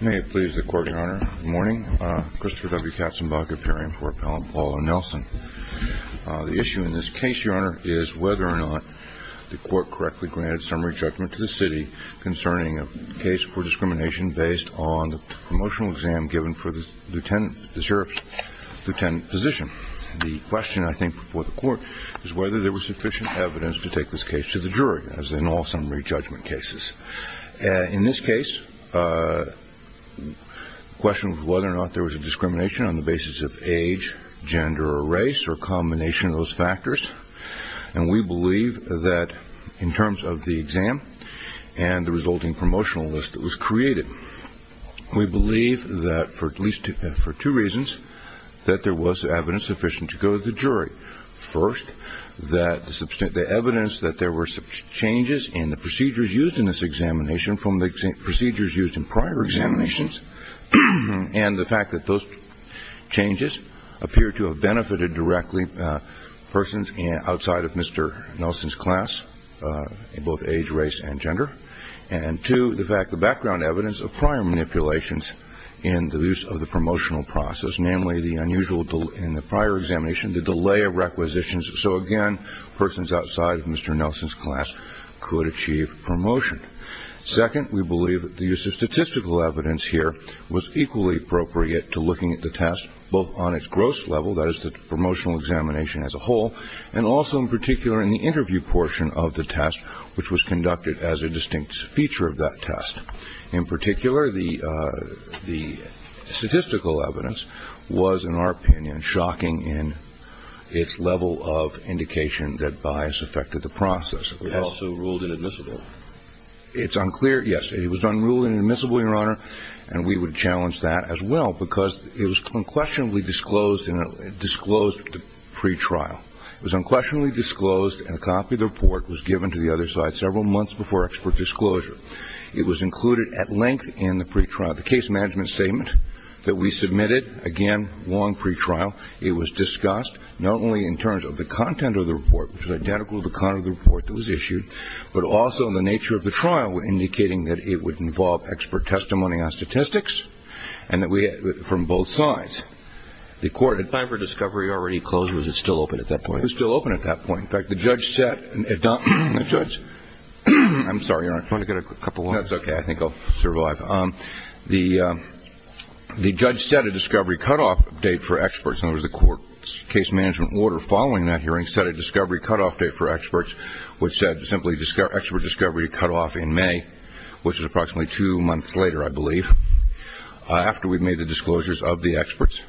May it please the Court, Your Honor. Good morning. Christopher W. Katzenbach, appearing before Appellant Paul O'Nelson. The issue in this case, Your Honor, is whether or not the Court correctly granted summary judgment to the City concerning a case for discrimination based on the promotional exam given for the Lieutenant position. The question, I think, before the Court is whether there was sufficient evidence to take this case to the jury, as in all summary judgment cases. In this case, the question was whether or not there was a discrimination on the basis of age, gender, or race, or a combination of those factors. And we believe that in terms of the exam and the resulting promotional list that was created, we believe that for at least two reasons, that there was evidence sufficient to go to the jury. First, that the evidence that there were changes in the procedures used in this examination from the procedures used in prior examinations and the fact that those changes appeared to have benefited directly persons outside of Mr. Nelson's class, in both age, race, and gender. And two, the fact the background evidence of prior manipulations in the use of the promotional process, namely the unusual in the prior examination, the delay of requisitions, so again, persons outside of Mr. Nelson's class could achieve promotion. Second, we believe that the use of statistical evidence here was equally appropriate to looking at the test, both on its gross level, that is, the promotional examination as a whole, and also in particular in the interview portion of the test, which was conducted as a distinct feature of that test. In particular, the statistical evidence was, in our opinion, shocking in its level of indication that bias affected the process. It was also ruled inadmissible. It's unclear, yes. It was unruled and inadmissible, Your Honor, and we would challenge that as well because it was unquestionably disclosed in a disclosed pretrial. It was unquestionably disclosed and a copy of the report was given to the other side several months before expert disclosure. It was included at length in the pretrial. The case management statement that we submitted, again, long pretrial, it was discussed not only in terms of the content of the report, which was identical to the content of the report that was issued, but also in the nature of the trial, indicating that it would involve expert testimony on statistics, and that we, from both sides, the court had... If the discovery was already closed, was it still open at that point? It was still open at that point. In fact, the judge said, the judge, I'm sorry, Your Honor. Do you want to get a couple more? No, I think that's okay. I think I'll survive. The judge set a discovery cutoff date for experts. In other words, the court's case management order following that hearing set a discovery cutoff date for experts, which said simply expert discovery cutoff in May, which is approximately two months later, I believe, after we made the disclosures of the experts,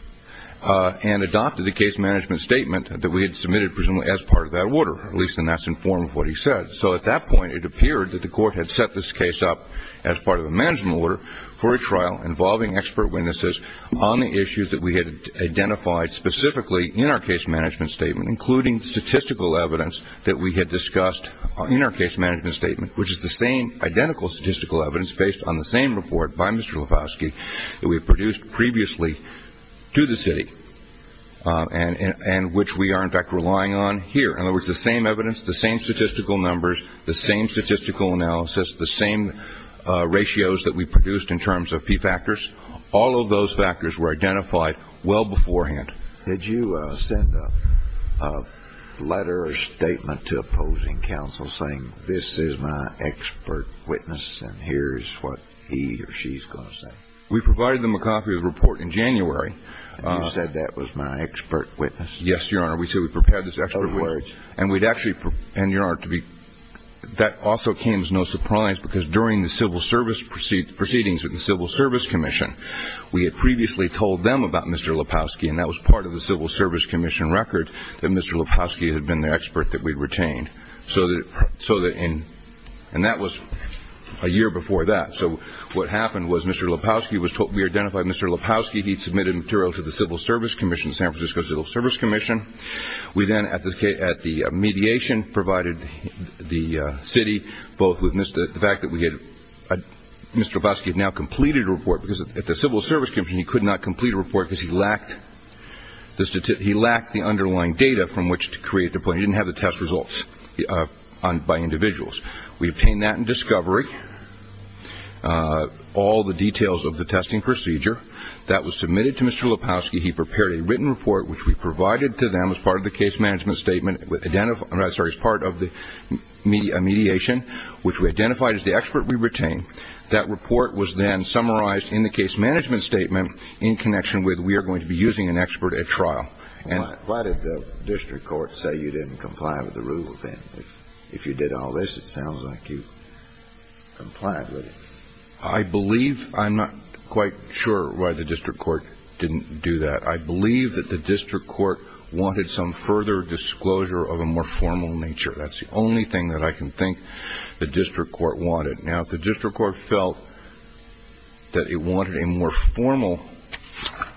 and adopted the case management statement that we had submitted, presumably, as part of that order, at least in that's in form of what he said. So at that point, it appeared that the court had set this case up as part of a management order for a trial involving expert witnesses on the issues that we had identified specifically in our case management statement, including statistical evidence that we had discussed in our case management statement, which is the same identical statistical evidence based on the same report by Mr. Levosky that we produced previously to the city, and which we are, in fact, relying on here. In other words, the same evidence, the same statistical numbers, the same statistical analysis, the same ratios that we produced in terms of P factors, all of those factors were identified well beforehand. Did you send a letter or statement to opposing counsel saying this is my expert witness and here is what he or she is going to say? We provided them a copy of the report in January. And you said that was my expert witness? Yes, Your Honor. We said we prepared this expert witness. And we'd actually, and Your Honor, that also came as no surprise because during the civil service proceedings with the Civil Service Commission, we had previously told them about Mr. Levosky and that was part of the Civil Service Commission record that Mr. Levosky had been the expert that we'd retained. And that was a year before that. So what happened was Mr. Levosky was told, we identified Mr. Levosky, he submitted material to the Civil Service Commission. We then at the mediation provided the city both with the fact that we had, Mr. Levosky had now completed a report because at the Civil Service Commission he could not complete a report because he lacked the underlying data from which to create the plan. He didn't have the test results by individuals. We obtained that in discovery, all the details of the testing procedure. That was submitted to Mr. Levosky. He prepared a written report which we provided to them as part of the case management statement, sorry, as part of the mediation which we identified as the expert we retained. That report was then summarized in the case management statement in connection with we are going to be using an expert at trial. Why did the district court say you didn't comply with the rule then? If you did all this, it sounds like you complied with it. I believe, I'm not quite sure why the district court didn't do that. I believe that the district court wanted some further disclosure of a more formal nature. That's the only thing that I can think the district court wanted. Now, if the district court felt that it wanted a more formal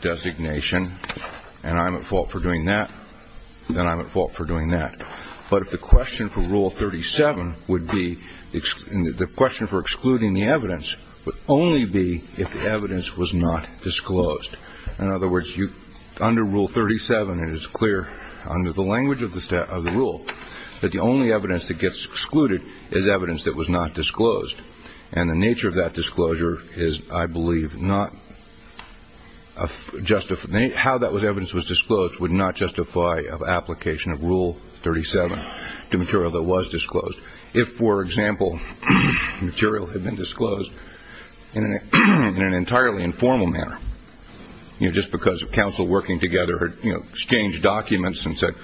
designation, and I'm at fault for doing that, then I'm at fault for doing that. The only evidence that gets excluded is evidence that was not disclosed. In other words, under Rule 37, it is clear under the language of the rule that the only evidence that gets excluded is evidence that was not disclosed. And the nature of that disclosure is, I believe, how that evidence was disclosed would not justify an application of Rule 37 to material that was disclosed. If, for example, material had been disclosed in an entirely informal manner, just because counsel working together had exchanged documents and said,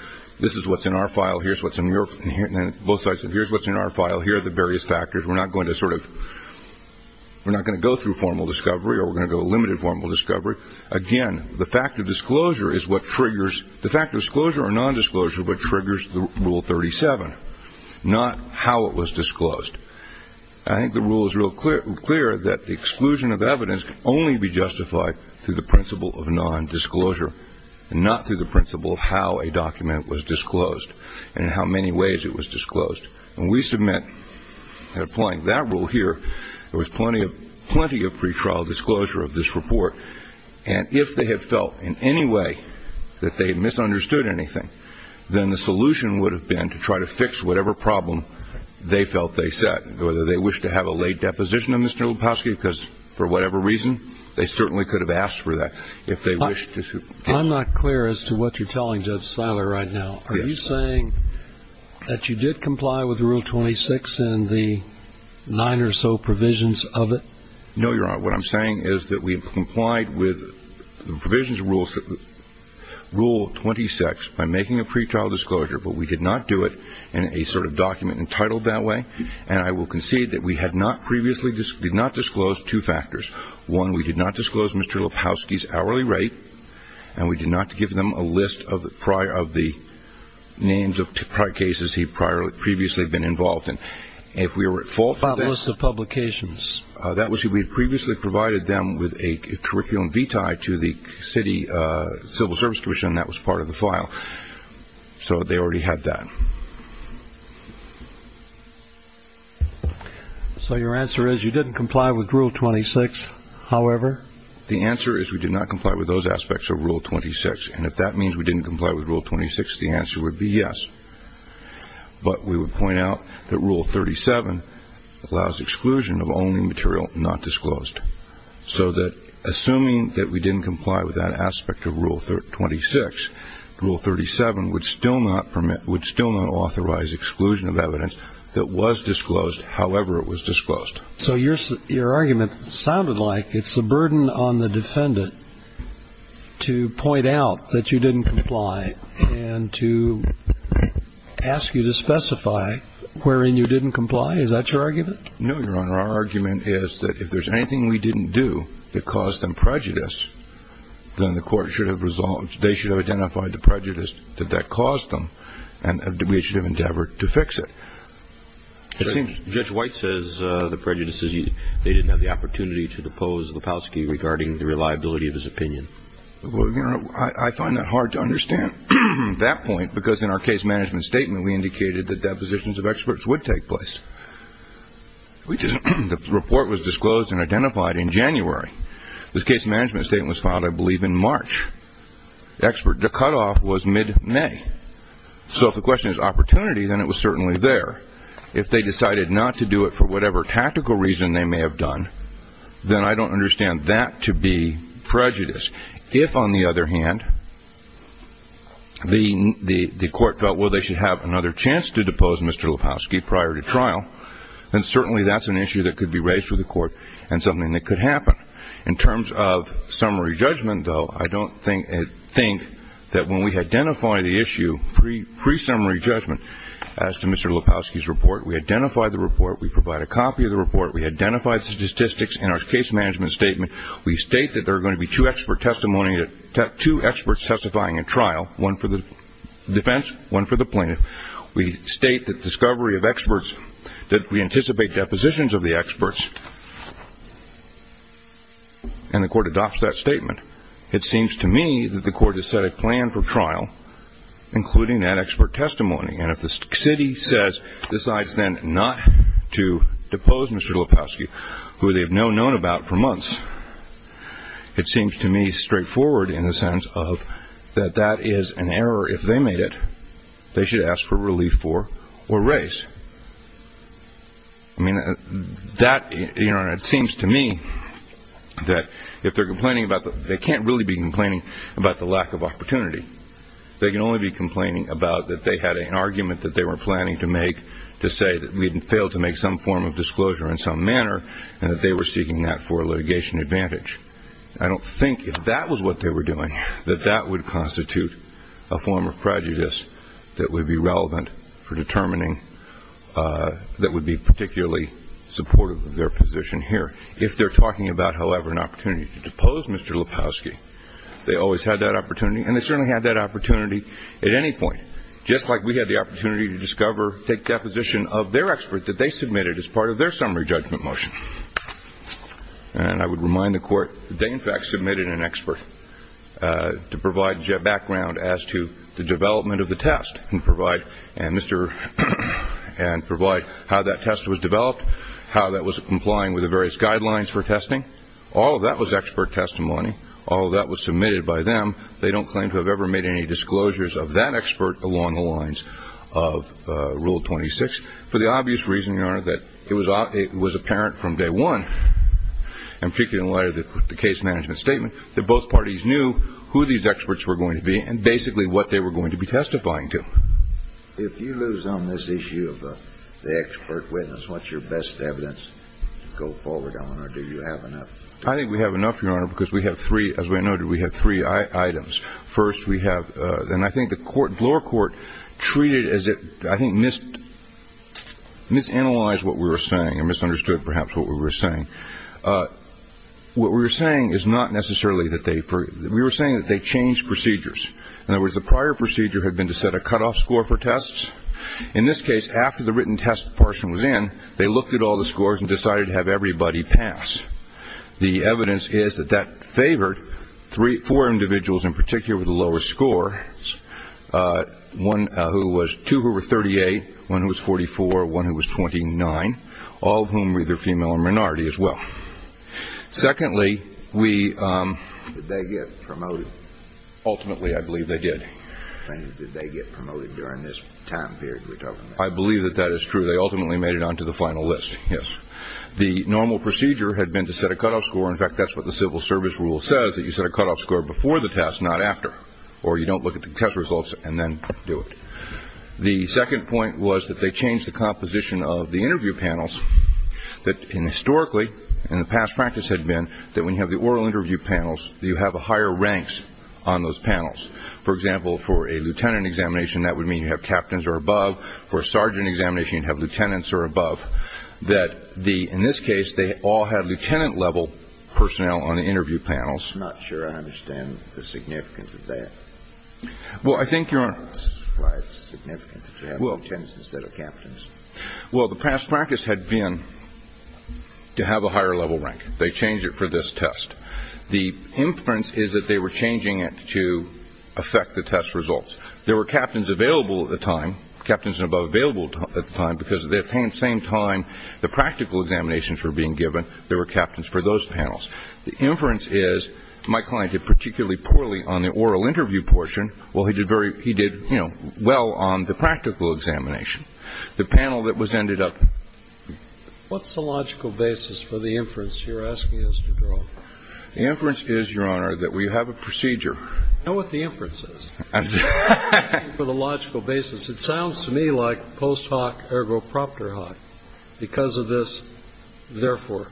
this is what's in our file, here's what's in your file, and both sides said, here's what's in our file, here are the various factors, we're not going to go through formal discovery or we're going to go limited formal discovery. Again, the fact of disclosure is what triggers the rule 37, not how it was disclosed. I think the rule is real clear that the exclusion of evidence can only be justified through the principle of nondisclosure and not through the principle of how a document was disclosed and how many ways it was disclosed. And we submit that applying that rule here, there was plenty of pretrial disclosure of this kind. kind of disclosure to material that was disclosed, and if they misunderstood anything, then the solution would have been to try to fix whatever problem they felt they set, whether they wished to have a late deposition of Mr. Lepofsky, because for whatever reason, they certainly could have asked for that if they wished to. I'm not clear as to what you're telling Judge Seiler right now. Are you saying that you did comply with Rule 26 and the nine or so provisions of it? No, Your Honor. What I'm saying is that we complied with the provisions of Rule 26 by making a pretrial disclosure, but we did not do it in a sort of document entitled that way. And I will concede that we had not previously disclosed two factors. One, we did not disclose Mr. Lepofsky's hourly rate, and we did not give them a list of the names of cases he had previously been involved in. If we were at fault for this, we had previously provided them with a curriculum vitae to the City Civil Service Commission that was part of the file. So they already had that. So your answer is you didn't comply with Rule 26, however? The answer is we did not comply with those aspects of Rule 26, and if that means we didn't comply with Rule 26, the answer would be yes. But we would point out that Rule 37 allows exclusion of only material not disclosed. So that assuming that we didn't comply with that aspect of Rule 26, Rule 37 would still not permit, would still not authorize exclusion of evidence that was disclosed, however it was disclosed. So your argument sounded like it's a burden on the defendant to point out that you didn't comply and to ask you to specify wherein you didn't comply. Is that your argument? No, Your Honor. Our argument is that if there's anything we didn't do that caused them prejudice, then the court should have resolved. They should have identified the prejudice that that caused them, and we should have endeavored to fix it. It seems Judge White says the prejudice is they didn't have the opportunity to depose Lepofsky regarding the reliability of his opinion. Well, Your Honor, I find that hard to understand at that point, because in our case management statement we indicated that depositions of experts would take place. The report was disclosed and identified in January. The case management statement was filed, I believe, in March. The cutoff was mid-May. So if the question is opportunity, then it was certainly there. If they decided not to do it for whatever tactical reason they may have done, then I think if, on the other hand, the court felt, well, they should have another chance to depose Mr. Lepofsky prior to trial, then certainly that's an issue that could be raised with the court and something that could happen. In terms of summary judgment, though, I don't think that when we identify the issue pre-summary judgment as to Mr. Lepofsky's report, we identify the report, we provide a copy of the report, we identify the statistics in our case management statement, we state that there are going to be two expert testimonies, two experts testifying in trial, one for the defense, one for the plaintiff. We state that discovery of experts, that we anticipate depositions of the experts, and the court adopts that statement. It seems to me that the court has set a plan for trial, including that expert testimony. And if the city says, decides then not to depose Mr. Lepofsky, who they've known about for months, it seems to me straightforward in the sense of that that is an error. If they made it, they should ask for relief for or raise. I mean, that, you know, it seems to me that if they're complaining about the, they can't really be complaining about the lack of opportunity. They can only be complaining about that they had an argument that they were planning to make to say that we had failed to make some form of disclosure in some manner, and that they were seeking that for litigation advantage. I don't think if that was what they were doing, that that would constitute a form of prejudice that would be relevant for determining, that would be particularly supportive of their position here. If they're talking about, however, an opportunity to depose Mr. Lepofsky, they always had that opportunity at any point, just like we had the opportunity to discover, take deposition of their expert that they submitted as part of their summary judgment motion. And I would remind the Court that they, in fact, submitted an expert to provide background as to the development of the test and provide, and Mr. and provide how that test was developed, how that was complying with the various guidelines for testing. All of that was expert testimony. All of that was submitted by them. They don't claim to have ever made any disclosures of that expert along the lines of Rule 26, for the obvious reason, Your Honor, that it was apparent from day one, and particularly in light of the case management statement, that both parties knew who these experts were going to be and basically what they were going to be testifying to. If you lose on this issue of the expert witness, what's your best evidence to go forward on, or do you have enough? I think we have enough, Your Honor, because we have three, as we noted, we have three items. First, we have, and I think the lower court treated as it, I think, misanalyzed what we were saying and misunderstood, perhaps, what we were saying. What we were saying is not necessarily that they, we were saying that they changed procedures. In other words, the prior procedure had been to set a cutoff score for tests. In this case, after the written test portion was in, they looked at all the scores and decided to have everybody pass. The evidence is that that favored three, four individuals, in particular, with a lower score, one who was, two who were 38, one who was 44, one who was 29, all of whom were either female or minority as well. Secondly, we, ultimately, I believe they did. Did they get promoted during this time period we're talking about? I believe that that is true. They ultimately made it onto the final list, yes. The normal procedure had been to set a cutoff score. In fact, that's what the civil service rule says, that you set a cutoff score before the test, not after, or you don't look at the test results and then do it. The second point was that they changed the composition of the interview panels that, historically, in the past practice had been that when you have the oral interview panels, you have higher ranks on those panels. For example, for a sergeant examination, you'd have lieutenants or above, that the, in this case, they all had lieutenant-level personnel on the interview panels. I'm not sure I understand the significance of that. Well, I think, Your Honor. That's why it's significant to have lieutenants instead of captains. Well, the past practice had been to have a higher-level rank. They changed it for this test. The inference is that they were changing it to affect the test results. There were no captains for those panels. The inference is, my client did particularly poorly on the oral interview portion, while he did very, he did, you know, well on the practical examination. The panel that was ended up. What's the logical basis for the inference you're asking us to draw? The inference is, Your Honor, that we have a procedure. I know what the inference is. I'm just asking for the logical basis. It sounds to me like posing a question to a post hoc ergo proctor hoc. Because of this, therefore.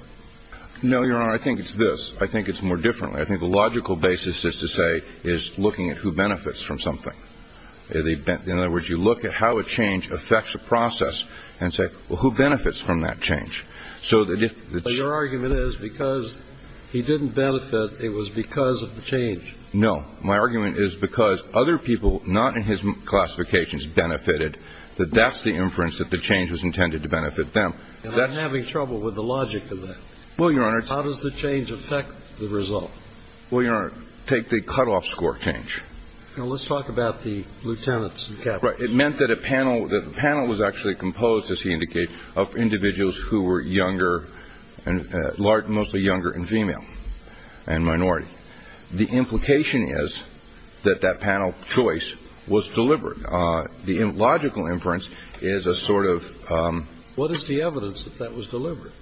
No, Your Honor. I think it's this. I think it's more differently. I think the logical basis is to say, is looking at who benefits from something. In other words, you look at how a change affects a process and say, well, who benefits from that change? So that if the change. But your argument is, because he didn't benefit, it was because of the change. No. My argument is, because other people, not in his classifications, benefited, that that's the inference that the change was intended to benefit them. And I'm having trouble with the logic of that. Well, Your Honor. How does the change affect the result? Well, Your Honor, take the cutoff score change. Well, let's talk about the lieutenants and captains. Right. It meant that a panel, that the panel was actually composed, as he indicated, of individuals who were younger, mostly younger and female and minority. The implication is that that panel choice was deliberate. The logical inference is a sort of... What is the evidence that that was deliberate?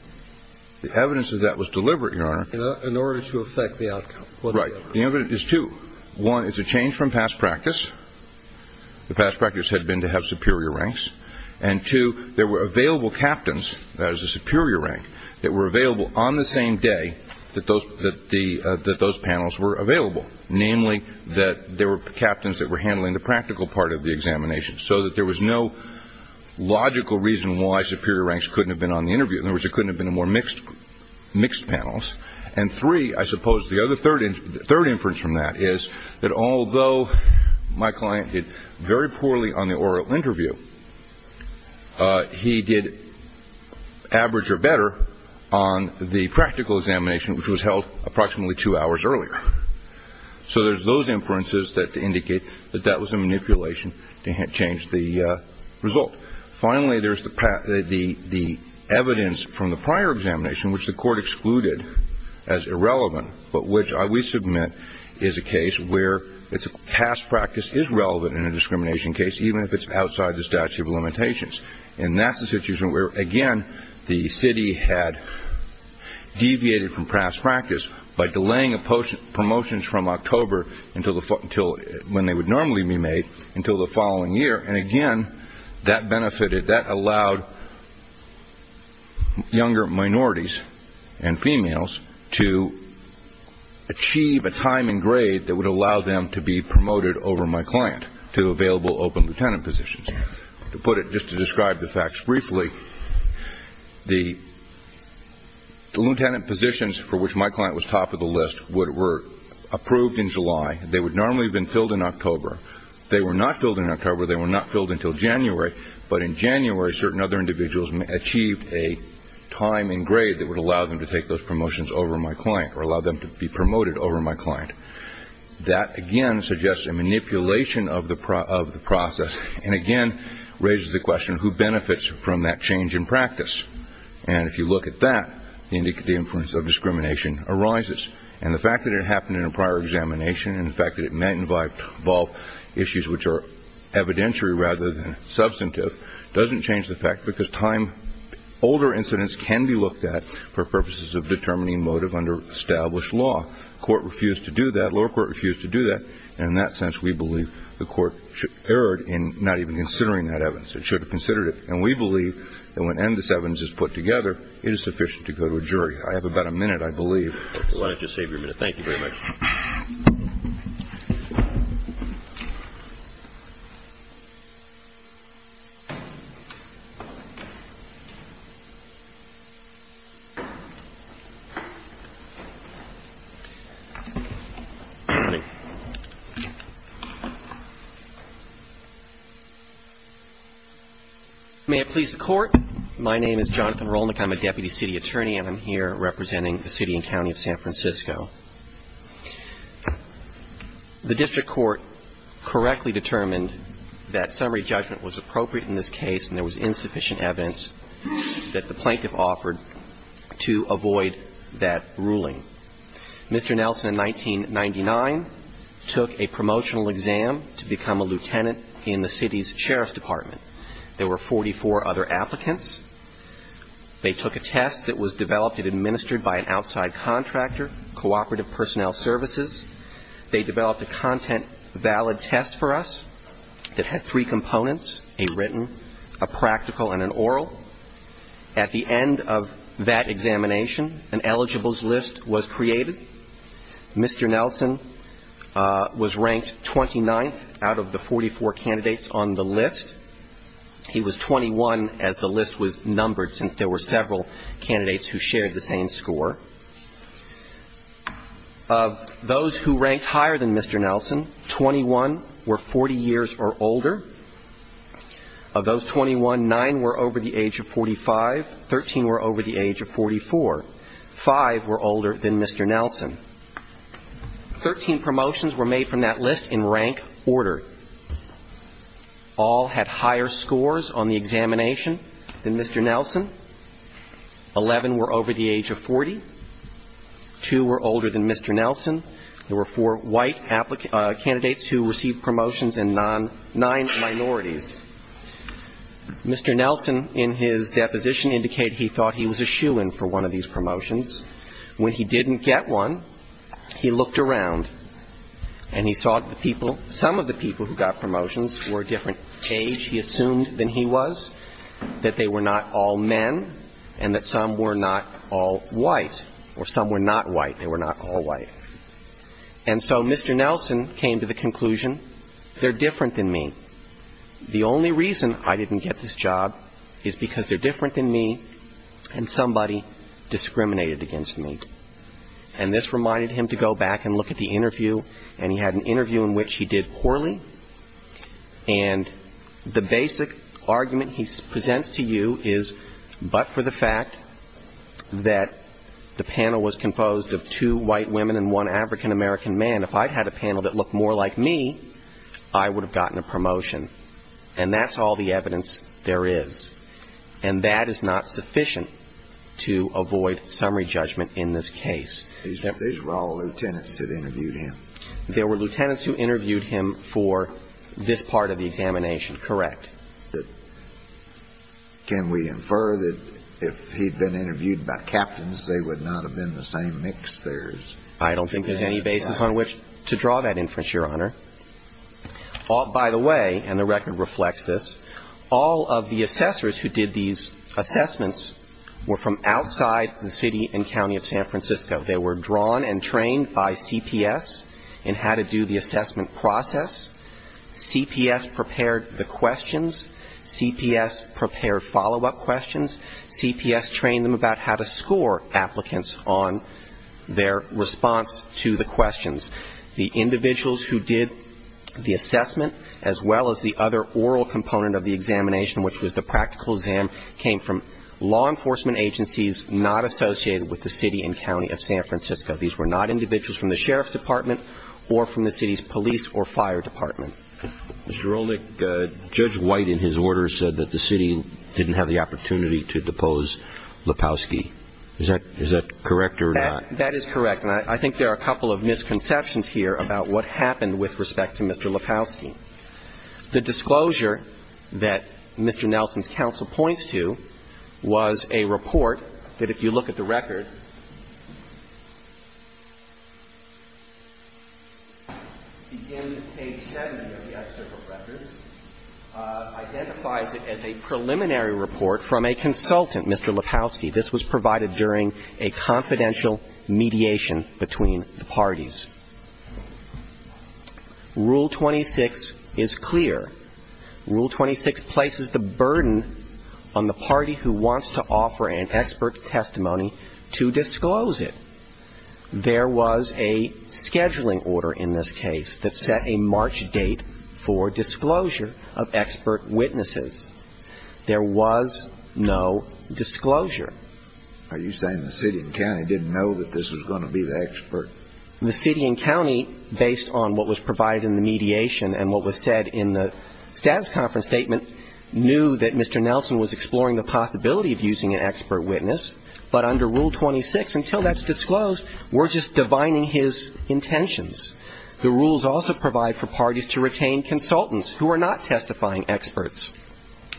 The evidence that that was deliberate, Your Honor... In order to affect the outcome. Right. The evidence is two. One, it's a change from past practice. The past practice had been to have superior ranks. And two, there were available captains, that is a superior rank, that were available on the same day that those panels were available. Namely, that there were captains that were handling the practical part of the examination. So that there was no logical reason why superior ranks couldn't have been on the interview. In other words, it couldn't have been a more mixed panels. And three, I suppose, the other third inference from that is, that although my client did very poorly on the oral interview, he did average or better on the practical examination, which was held approximately two hours earlier. So there's those inferences that indicate that that was a manipulation to change the result. Finally, there's the evidence from the prior examination, which the court excluded as irrelevant, but which we submit is a case where past practice is relevant in a discrimination case, and that's the situation where, again, the city had deviated from past practice by delaying promotions from October, when they would normally be made, until the following year. And again, that benefited, that allowed younger minorities and females to achieve a time and grade that would allow them to be promoted over my client to available open lieutenant positions. To put it, just to describe the facts briefly, the lieutenant positions for which my client was top of the list were approved in July. They would normally have been filled in October. They were not filled in October. They were not filled until January. But in January, certain other individuals achieved a time and grade that would allow them to take those promotions over my client, or allow them to be promoted over my client. That, again, suggests a manipulation of the process. And again, raises the question, who benefits from that change in practice? And if you look at that, the influence of discrimination arises. And the fact that it happened in a prior examination, and the fact that it may involve issues which are evidentiary rather than substantive, doesn't change the fact, because time, older incidents can be looked at for purposes of determining motive under established law. Court refused to do that. Lower court refused to do that. And in that sense, we believe the court erred in not even considering that evidence. It should have considered it. And we believe that when this evidence is put together, it is sufficient to go to a jury. I have about a minute, I believe. Why don't you save your minute? Thank you very much. May it please the Court. My name is Jonathan Rolnick. I'm a deputy city attorney, and I'm here representing the city and county of San Francisco. The district court correctly determined that summary judgment was appropriate in this case, and there was insufficient evidence that the plaintiff offered to avoid that ruling. Mr. Nelson, in 1999, took a promotional exam to become a lieutenant in the city's sheriff's department. There were 44 other applicants. They took a test that was developed and administered by an outside contractor, Cooperative Personnel Services. They developed a content valid test for us that had three components, a written, a practical, and an oral. At the end of that examination, an eligibles list was created. Mr. Nelson was ranked 29th out of the 44 candidates on the list. He was 21 as the list was numbered, since there were several candidates who shared the same score. Of those who ranked higher than Mr. Nelson, 21 were 40 years or older. Of those 21, 9 were over the age of 45, 13 were over the age of 44. Five were older than Mr. Nelson. Thirteen promotions were made from that list in rank order. All had higher scores on the examination than Mr. Nelson. Eleven were over the age of 40. Two were older than Mr. Nelson. There were four white candidates who received promotions and nine minorities. Mr. Nelson, in his deposition, indicated he thought he was a shoo-in for one of these promotions. When he didn't get one, he looked around and he saw some of the people who got promotions were a different age, he assumed, than he was, that they were not all men and that some were not all white, or some were not white, they were not all white. And so Mr. Nelson came to the conclusion, they're different than me. The only reason I didn't get this job is because they're different than me and somebody discriminated against me. And this reminded him to go back and look at the interview, and he had an interview in which he did poorly, and the basic argument he presents to you is, but for the fact that the panel was composed of two white women and one African-American man, if I'd had a panel that looked more like me, I would have gotten a promotion. And that's all the evidence there is. And that is not sufficient to avoid summary judgment in this case. These were all lieutenants that interviewed him? There were lieutenants who interviewed him for this part of the examination, correct. Can we infer that if he'd been interviewed by captains, they would not have been the same mix? I don't think there's any basis on which to draw that inference, Your Honor. By the way, and the record reflects this, all of the assessors who did these assessments were from outside the city and county of San Francisco. They were drawn and trained by CPS in how to do the assessment process. CPS prepared the questions. CPS prepared follow-up questions. CPS trained them about how to score applicants on their response to the questions. The individuals who did the assessment, as well as the other oral component of the examination, which was the practical exam, came from law enforcement agencies not associated with the city and county of San Francisco. These were not individuals from the sheriff's department or from the city's police or fire department. Judge White, in his order, said that the city didn't have the opportunity to depose Lepowski. Is that correct or not? That is correct. And I think there are a couple of misconceptions here about what happened with respect to Mr. Lepowski. The disclosure that Mr. Nelson's counsel points to was a report that, if you look at the record, begins at page 7 of the excerpt of records, identifies it as a preliminary report from a consultant, Mr. Lepowski. This was provided during a confidential mediation between the parties. Rule 26 is clear. Rule 26 places the burden on the party who wants to offer an expert testimony to disclose it. There was a scheduling order in this case that set a March date for disclosure of expert witnesses. There was no disclosure. Are you saying the city and county didn't know that this was going to be the expert? The city and county, based on what was provided in the mediation and what was said in the status conference statement, knew that Mr. Nelson was exploring the possibility of using an expert witness. But under Rule 26, until that's disclosed, we're just divining his intentions. The rules also provide for parties to retain consultants who are not testifying experts.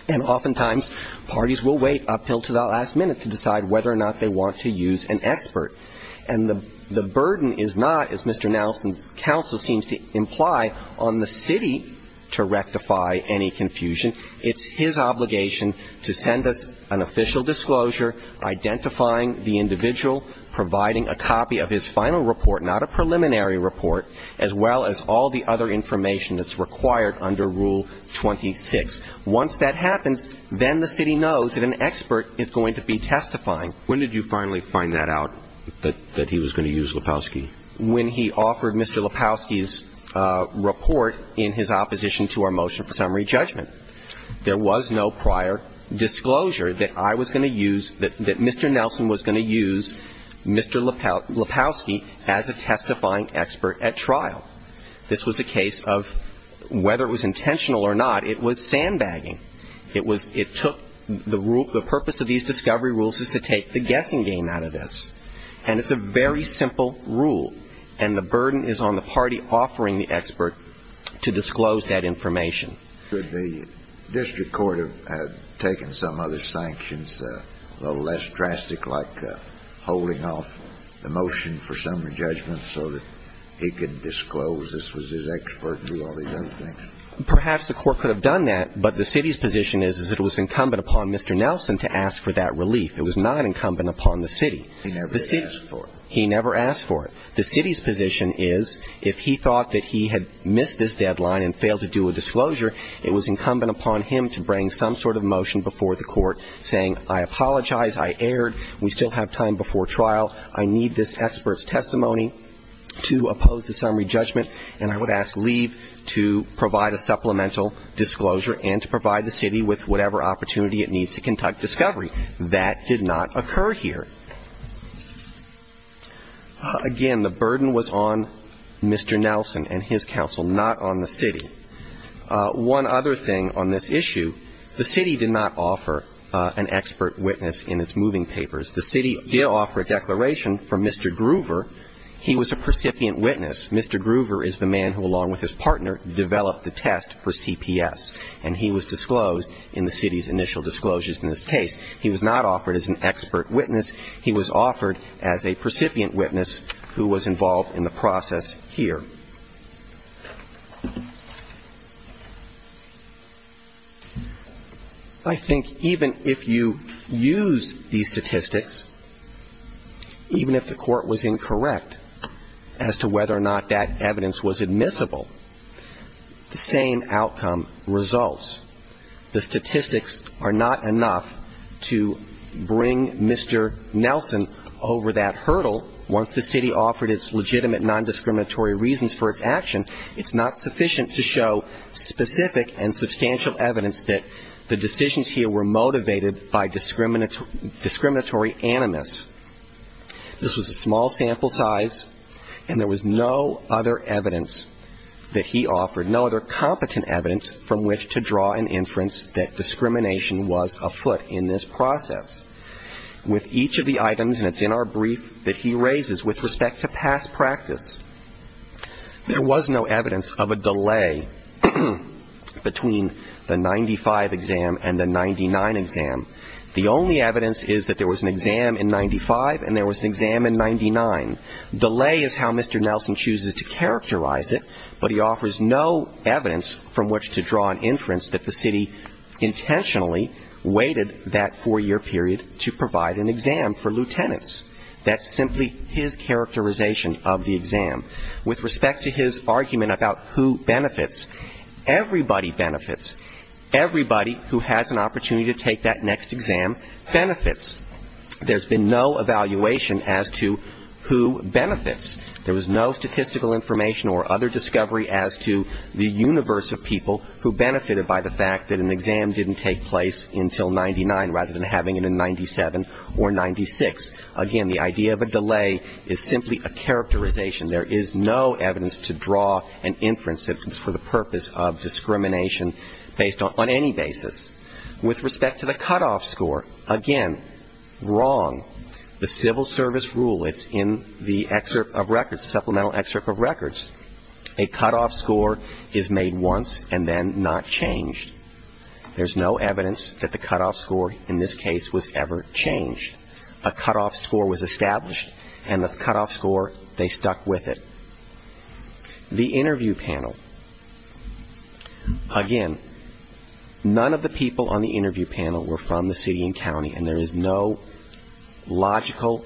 And oftentimes, parties will wait until the last minute to decide whether or not they want to use an expert. And the burden is not, as Mr. Nelson's counsel seems to imply, on the city to rectify any confusion. It's his obligation to send us an official disclosure, identifying the individual, providing a copy of his final report, not a preliminary report, as well as all the other information that's required under Rule 26. Once that happens, then the city knows that an expert is going to be testifying. When did you finally find that out, that he was going to use Lepowski? When he offered Mr. Lepowski's report in his opposition to our motion for summary judgment. There was no prior disclosure that I was going to use, that Mr. Nelson was going to use Mr. Lepowski as a testifying expert at trial. This was a case of, whether it was intentional or not, it was sandbagging. It was, it took, the purpose of these discovery rules is to take the guessing game out of this. And it's a very simple rule. And the burden is on the party offering the expert to disclose that information. Should the district court have taken some other sanctions, a little less drastic, like holding off the motion for summary judgment so that he could disclose this was his expert and do all these other things? Perhaps the court could have done that, but the city's position is that it was incumbent upon Mr. Nelson to ask for that relief. It was not incumbent upon the city. He never asked for it. He never asked for it. The city's position is, if he thought that he had missed this deadline and failed to do a disclosure, it was incumbent upon him to bring some sort of motion before the court saying, I apologize, I erred, we still have time before trial, I need this expert's testimony to oppose the summary judgment. And I would ask leave to provide a supplemental disclosure and to provide the city with whatever opportunity it needs to conduct discovery. That did not occur here. Again, the burden was on Mr. Nelson and his counsel, not on the city. One other thing on this issue, the city did not offer an expert witness in its moving papers. The city did offer a declaration from Mr. Groover. He was a percipient witness. Mr. Groover is the man who, along with his partner, developed the test for CPS. And he was disclosed in the city's initial disclosures in this case. He was not offered as an expert witness. He was offered as a percipient witness who was involved in the process here. I think even if you use these statistics, even if the court was incorrect as to whether or not that evidence was admissible, the same outcome results. The statistics are not enough to bring Mr. Nelson over that hurdle once the city offered its legitimate non-discriminatory reasons for his disappearance. It's not sufficient to show specific and substantial evidence that the decisions here were motivated by discriminatory animus. This was a small sample size, and there was no other evidence that he offered, no other competent evidence from which to draw an inference that discrimination was afoot in this process. With each of the items, and it's in our brief that he raises with respect to past practice, there was no evidence of a delay between the 95 exam and the 99 exam. The only evidence is that there was an exam in 95 and there was an exam in 99. Delay is how Mr. Nelson chooses to characterize it, but he offers no evidence from which to draw an inference that the city intentionally waited that four-year period to provide an exam for lieutenants. That's simply his characterization of the exam. With respect to his argument about who benefits, everybody benefits. Everybody who has an opportunity to take that next exam benefits. There's been no evaluation as to who benefits. There was no statistical information or other discovery as to the universe of people who benefited by the fact that an exam didn't take place until 99 rather than having it in 97 or 96. Again, the idea of a delay is simply a characterization. There is no evidence to draw an inference for the purpose of discrimination based on any basis. With respect to the cutoff score, again, wrong. The civil service rule, it's in the excerpt of records, supplemental excerpt of records. A cutoff score is made once and then not changed. There's no evidence that the cutoff score in this case was ever changed. A cutoff score was established, and the cutoff score, they stuck with it. The interview panel. Again, none of the people on the interview panel were from the city and county, and there is no logical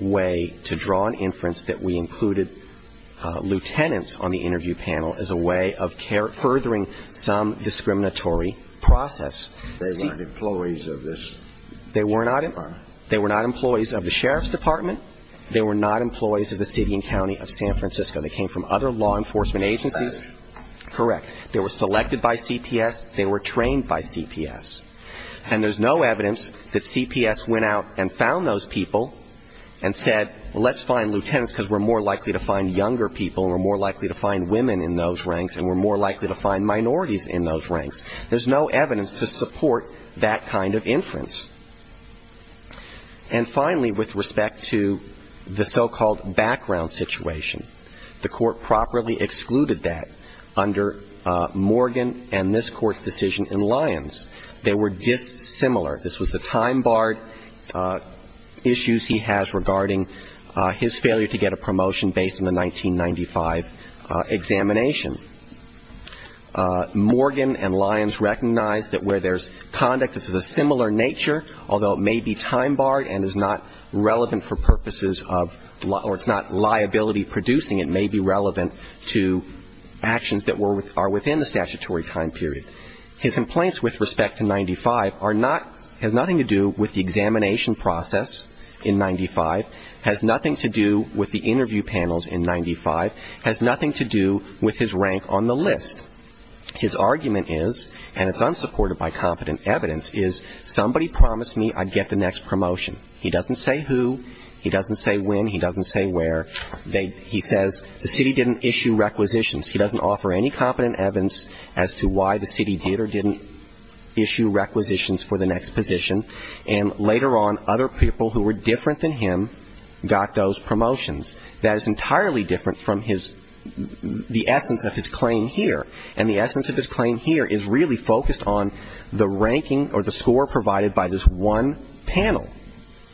way to draw an inference that we included lieutenants on the interview panel as a way of furthering some discriminatory process. They weren't employees of this department? They were not employees of the sheriff's department. They were not employees of the city and county of San Francisco. They came from other law enforcement agencies. Correct. They were selected by CPS. They were trained by CPS. And there's no evidence that CPS went out and found those people and said, well, let's find lieutenants because we're more likely to find younger people, and we're more likely to find women in those ranks, and we're more likely to find minorities in those ranks. There's no evidence to support that kind of inference. And finally, with respect to the so-called background situation, the court properly excluded that under Morgan and this court's decision in Lyons. They were dissimilar. This was the time-barred issues he has regarding his failure to get a promotion based on the 1995 examination. Morgan and Lyons recognized that where there's conduct that's of a similar nature, although it may be time-barred and is not relevant for purposes of or it's not liability-producing, it may be relevant to actions that are within the statutory time period. His complaints with respect to 95 are not, has nothing to do with the examination process in 95, has nothing to do with the interview panels in 95, has nothing to do with his rank on the list. His argument is, and it's unsupported by competent evidence, is somebody promised me I'd get the next promotion. He doesn't say who. He doesn't say when. He doesn't say where. He says the city didn't issue requisitions. He doesn't offer any competent evidence as to why the city did or didn't issue requisitions for the next position. And later on, other people who were different than him got those promotions. That is entirely different from his, the essence of his claim here. And the essence of his claim here is really focused on the ranking or the score provided by this one panel.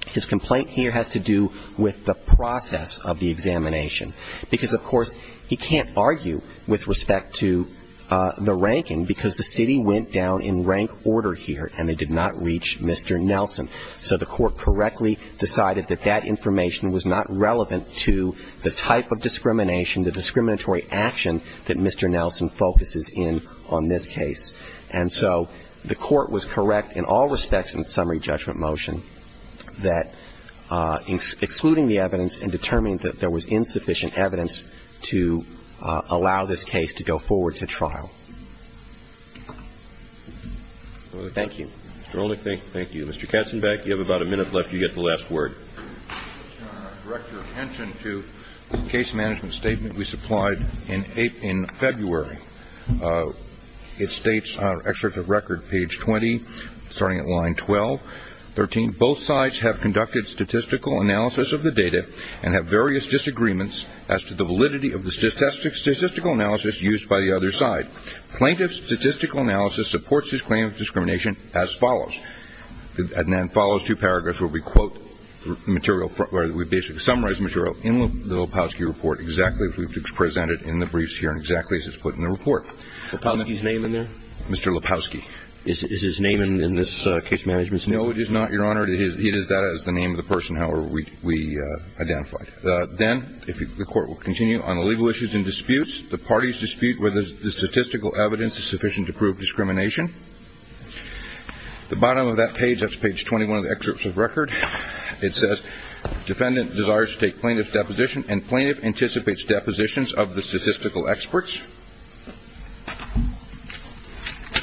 His complaint here has to do with the process of the examination. Because, of course, he can't argue with respect to the ranking, because the city went down in rank order here, and they did not reach Mr. Nelson. So the court correctly decided that that information was not relevant to the type of discrimination, the discriminatory action that Mr. Nelson focuses in on this case. And so the court was correct in all respects in the summary judgment motion that excluding the evidence and determining that there was insufficient evidence to allow this case to go forward to trial. Thank you. Thank you. Mr. Katzenbeck, you have about a minute left. You get the last word. I'd like to direct your attention to the case management statement we supplied in February. It states, our excerpt of record, page 20, starting at line 12, 13, both sides have conducted statistical analysis of the data and have made various disagreements as to the validity of the statistical analysis used by the other side. Plaintiff's statistical analysis supports his claim of discrimination as follows. And then follows two paragraphs where we quote material, where we basically summarize material in the Lepofsky report exactly as we presented in the briefs here and exactly as it's put in the report. Lepofsky's name in there? Mr. Lepofsky. Is his name in this case management statement? No, it is not, Your Honor. He does that as the name of the person, however, we identified. Then the court will continue on the legal issues and disputes. The parties dispute whether the statistical evidence is sufficient to prove discrimination. The bottom of that page, that's page 21 of the excerpt of record, it says, defendant desires to take plaintiff's deposition and plaintiff anticipates depositions of the statistical experts.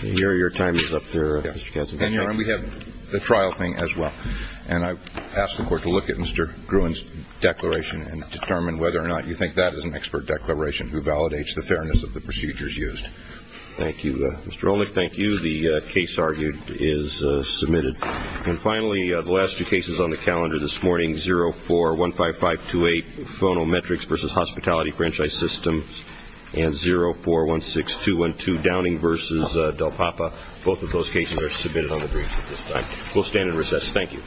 Your time is up there, Mr. Katzenbeck. And, Your Honor, we have the trial thing as well. And I ask the court to look at Mr. Gruen's declaration and determine whether or not you think that is an expert declaration who validates the fairness of the procedures used. Thank you. Mr. Olick, thank you. The case argued is submitted. And finally, the last two cases on the calendar this morning, 04-15528, phonometrics versus hospitality franchise system, and 04-16212, Downing versus Del Papa. Both of those cases are submitted on the briefs at this time. We'll stand in recess. Thank you.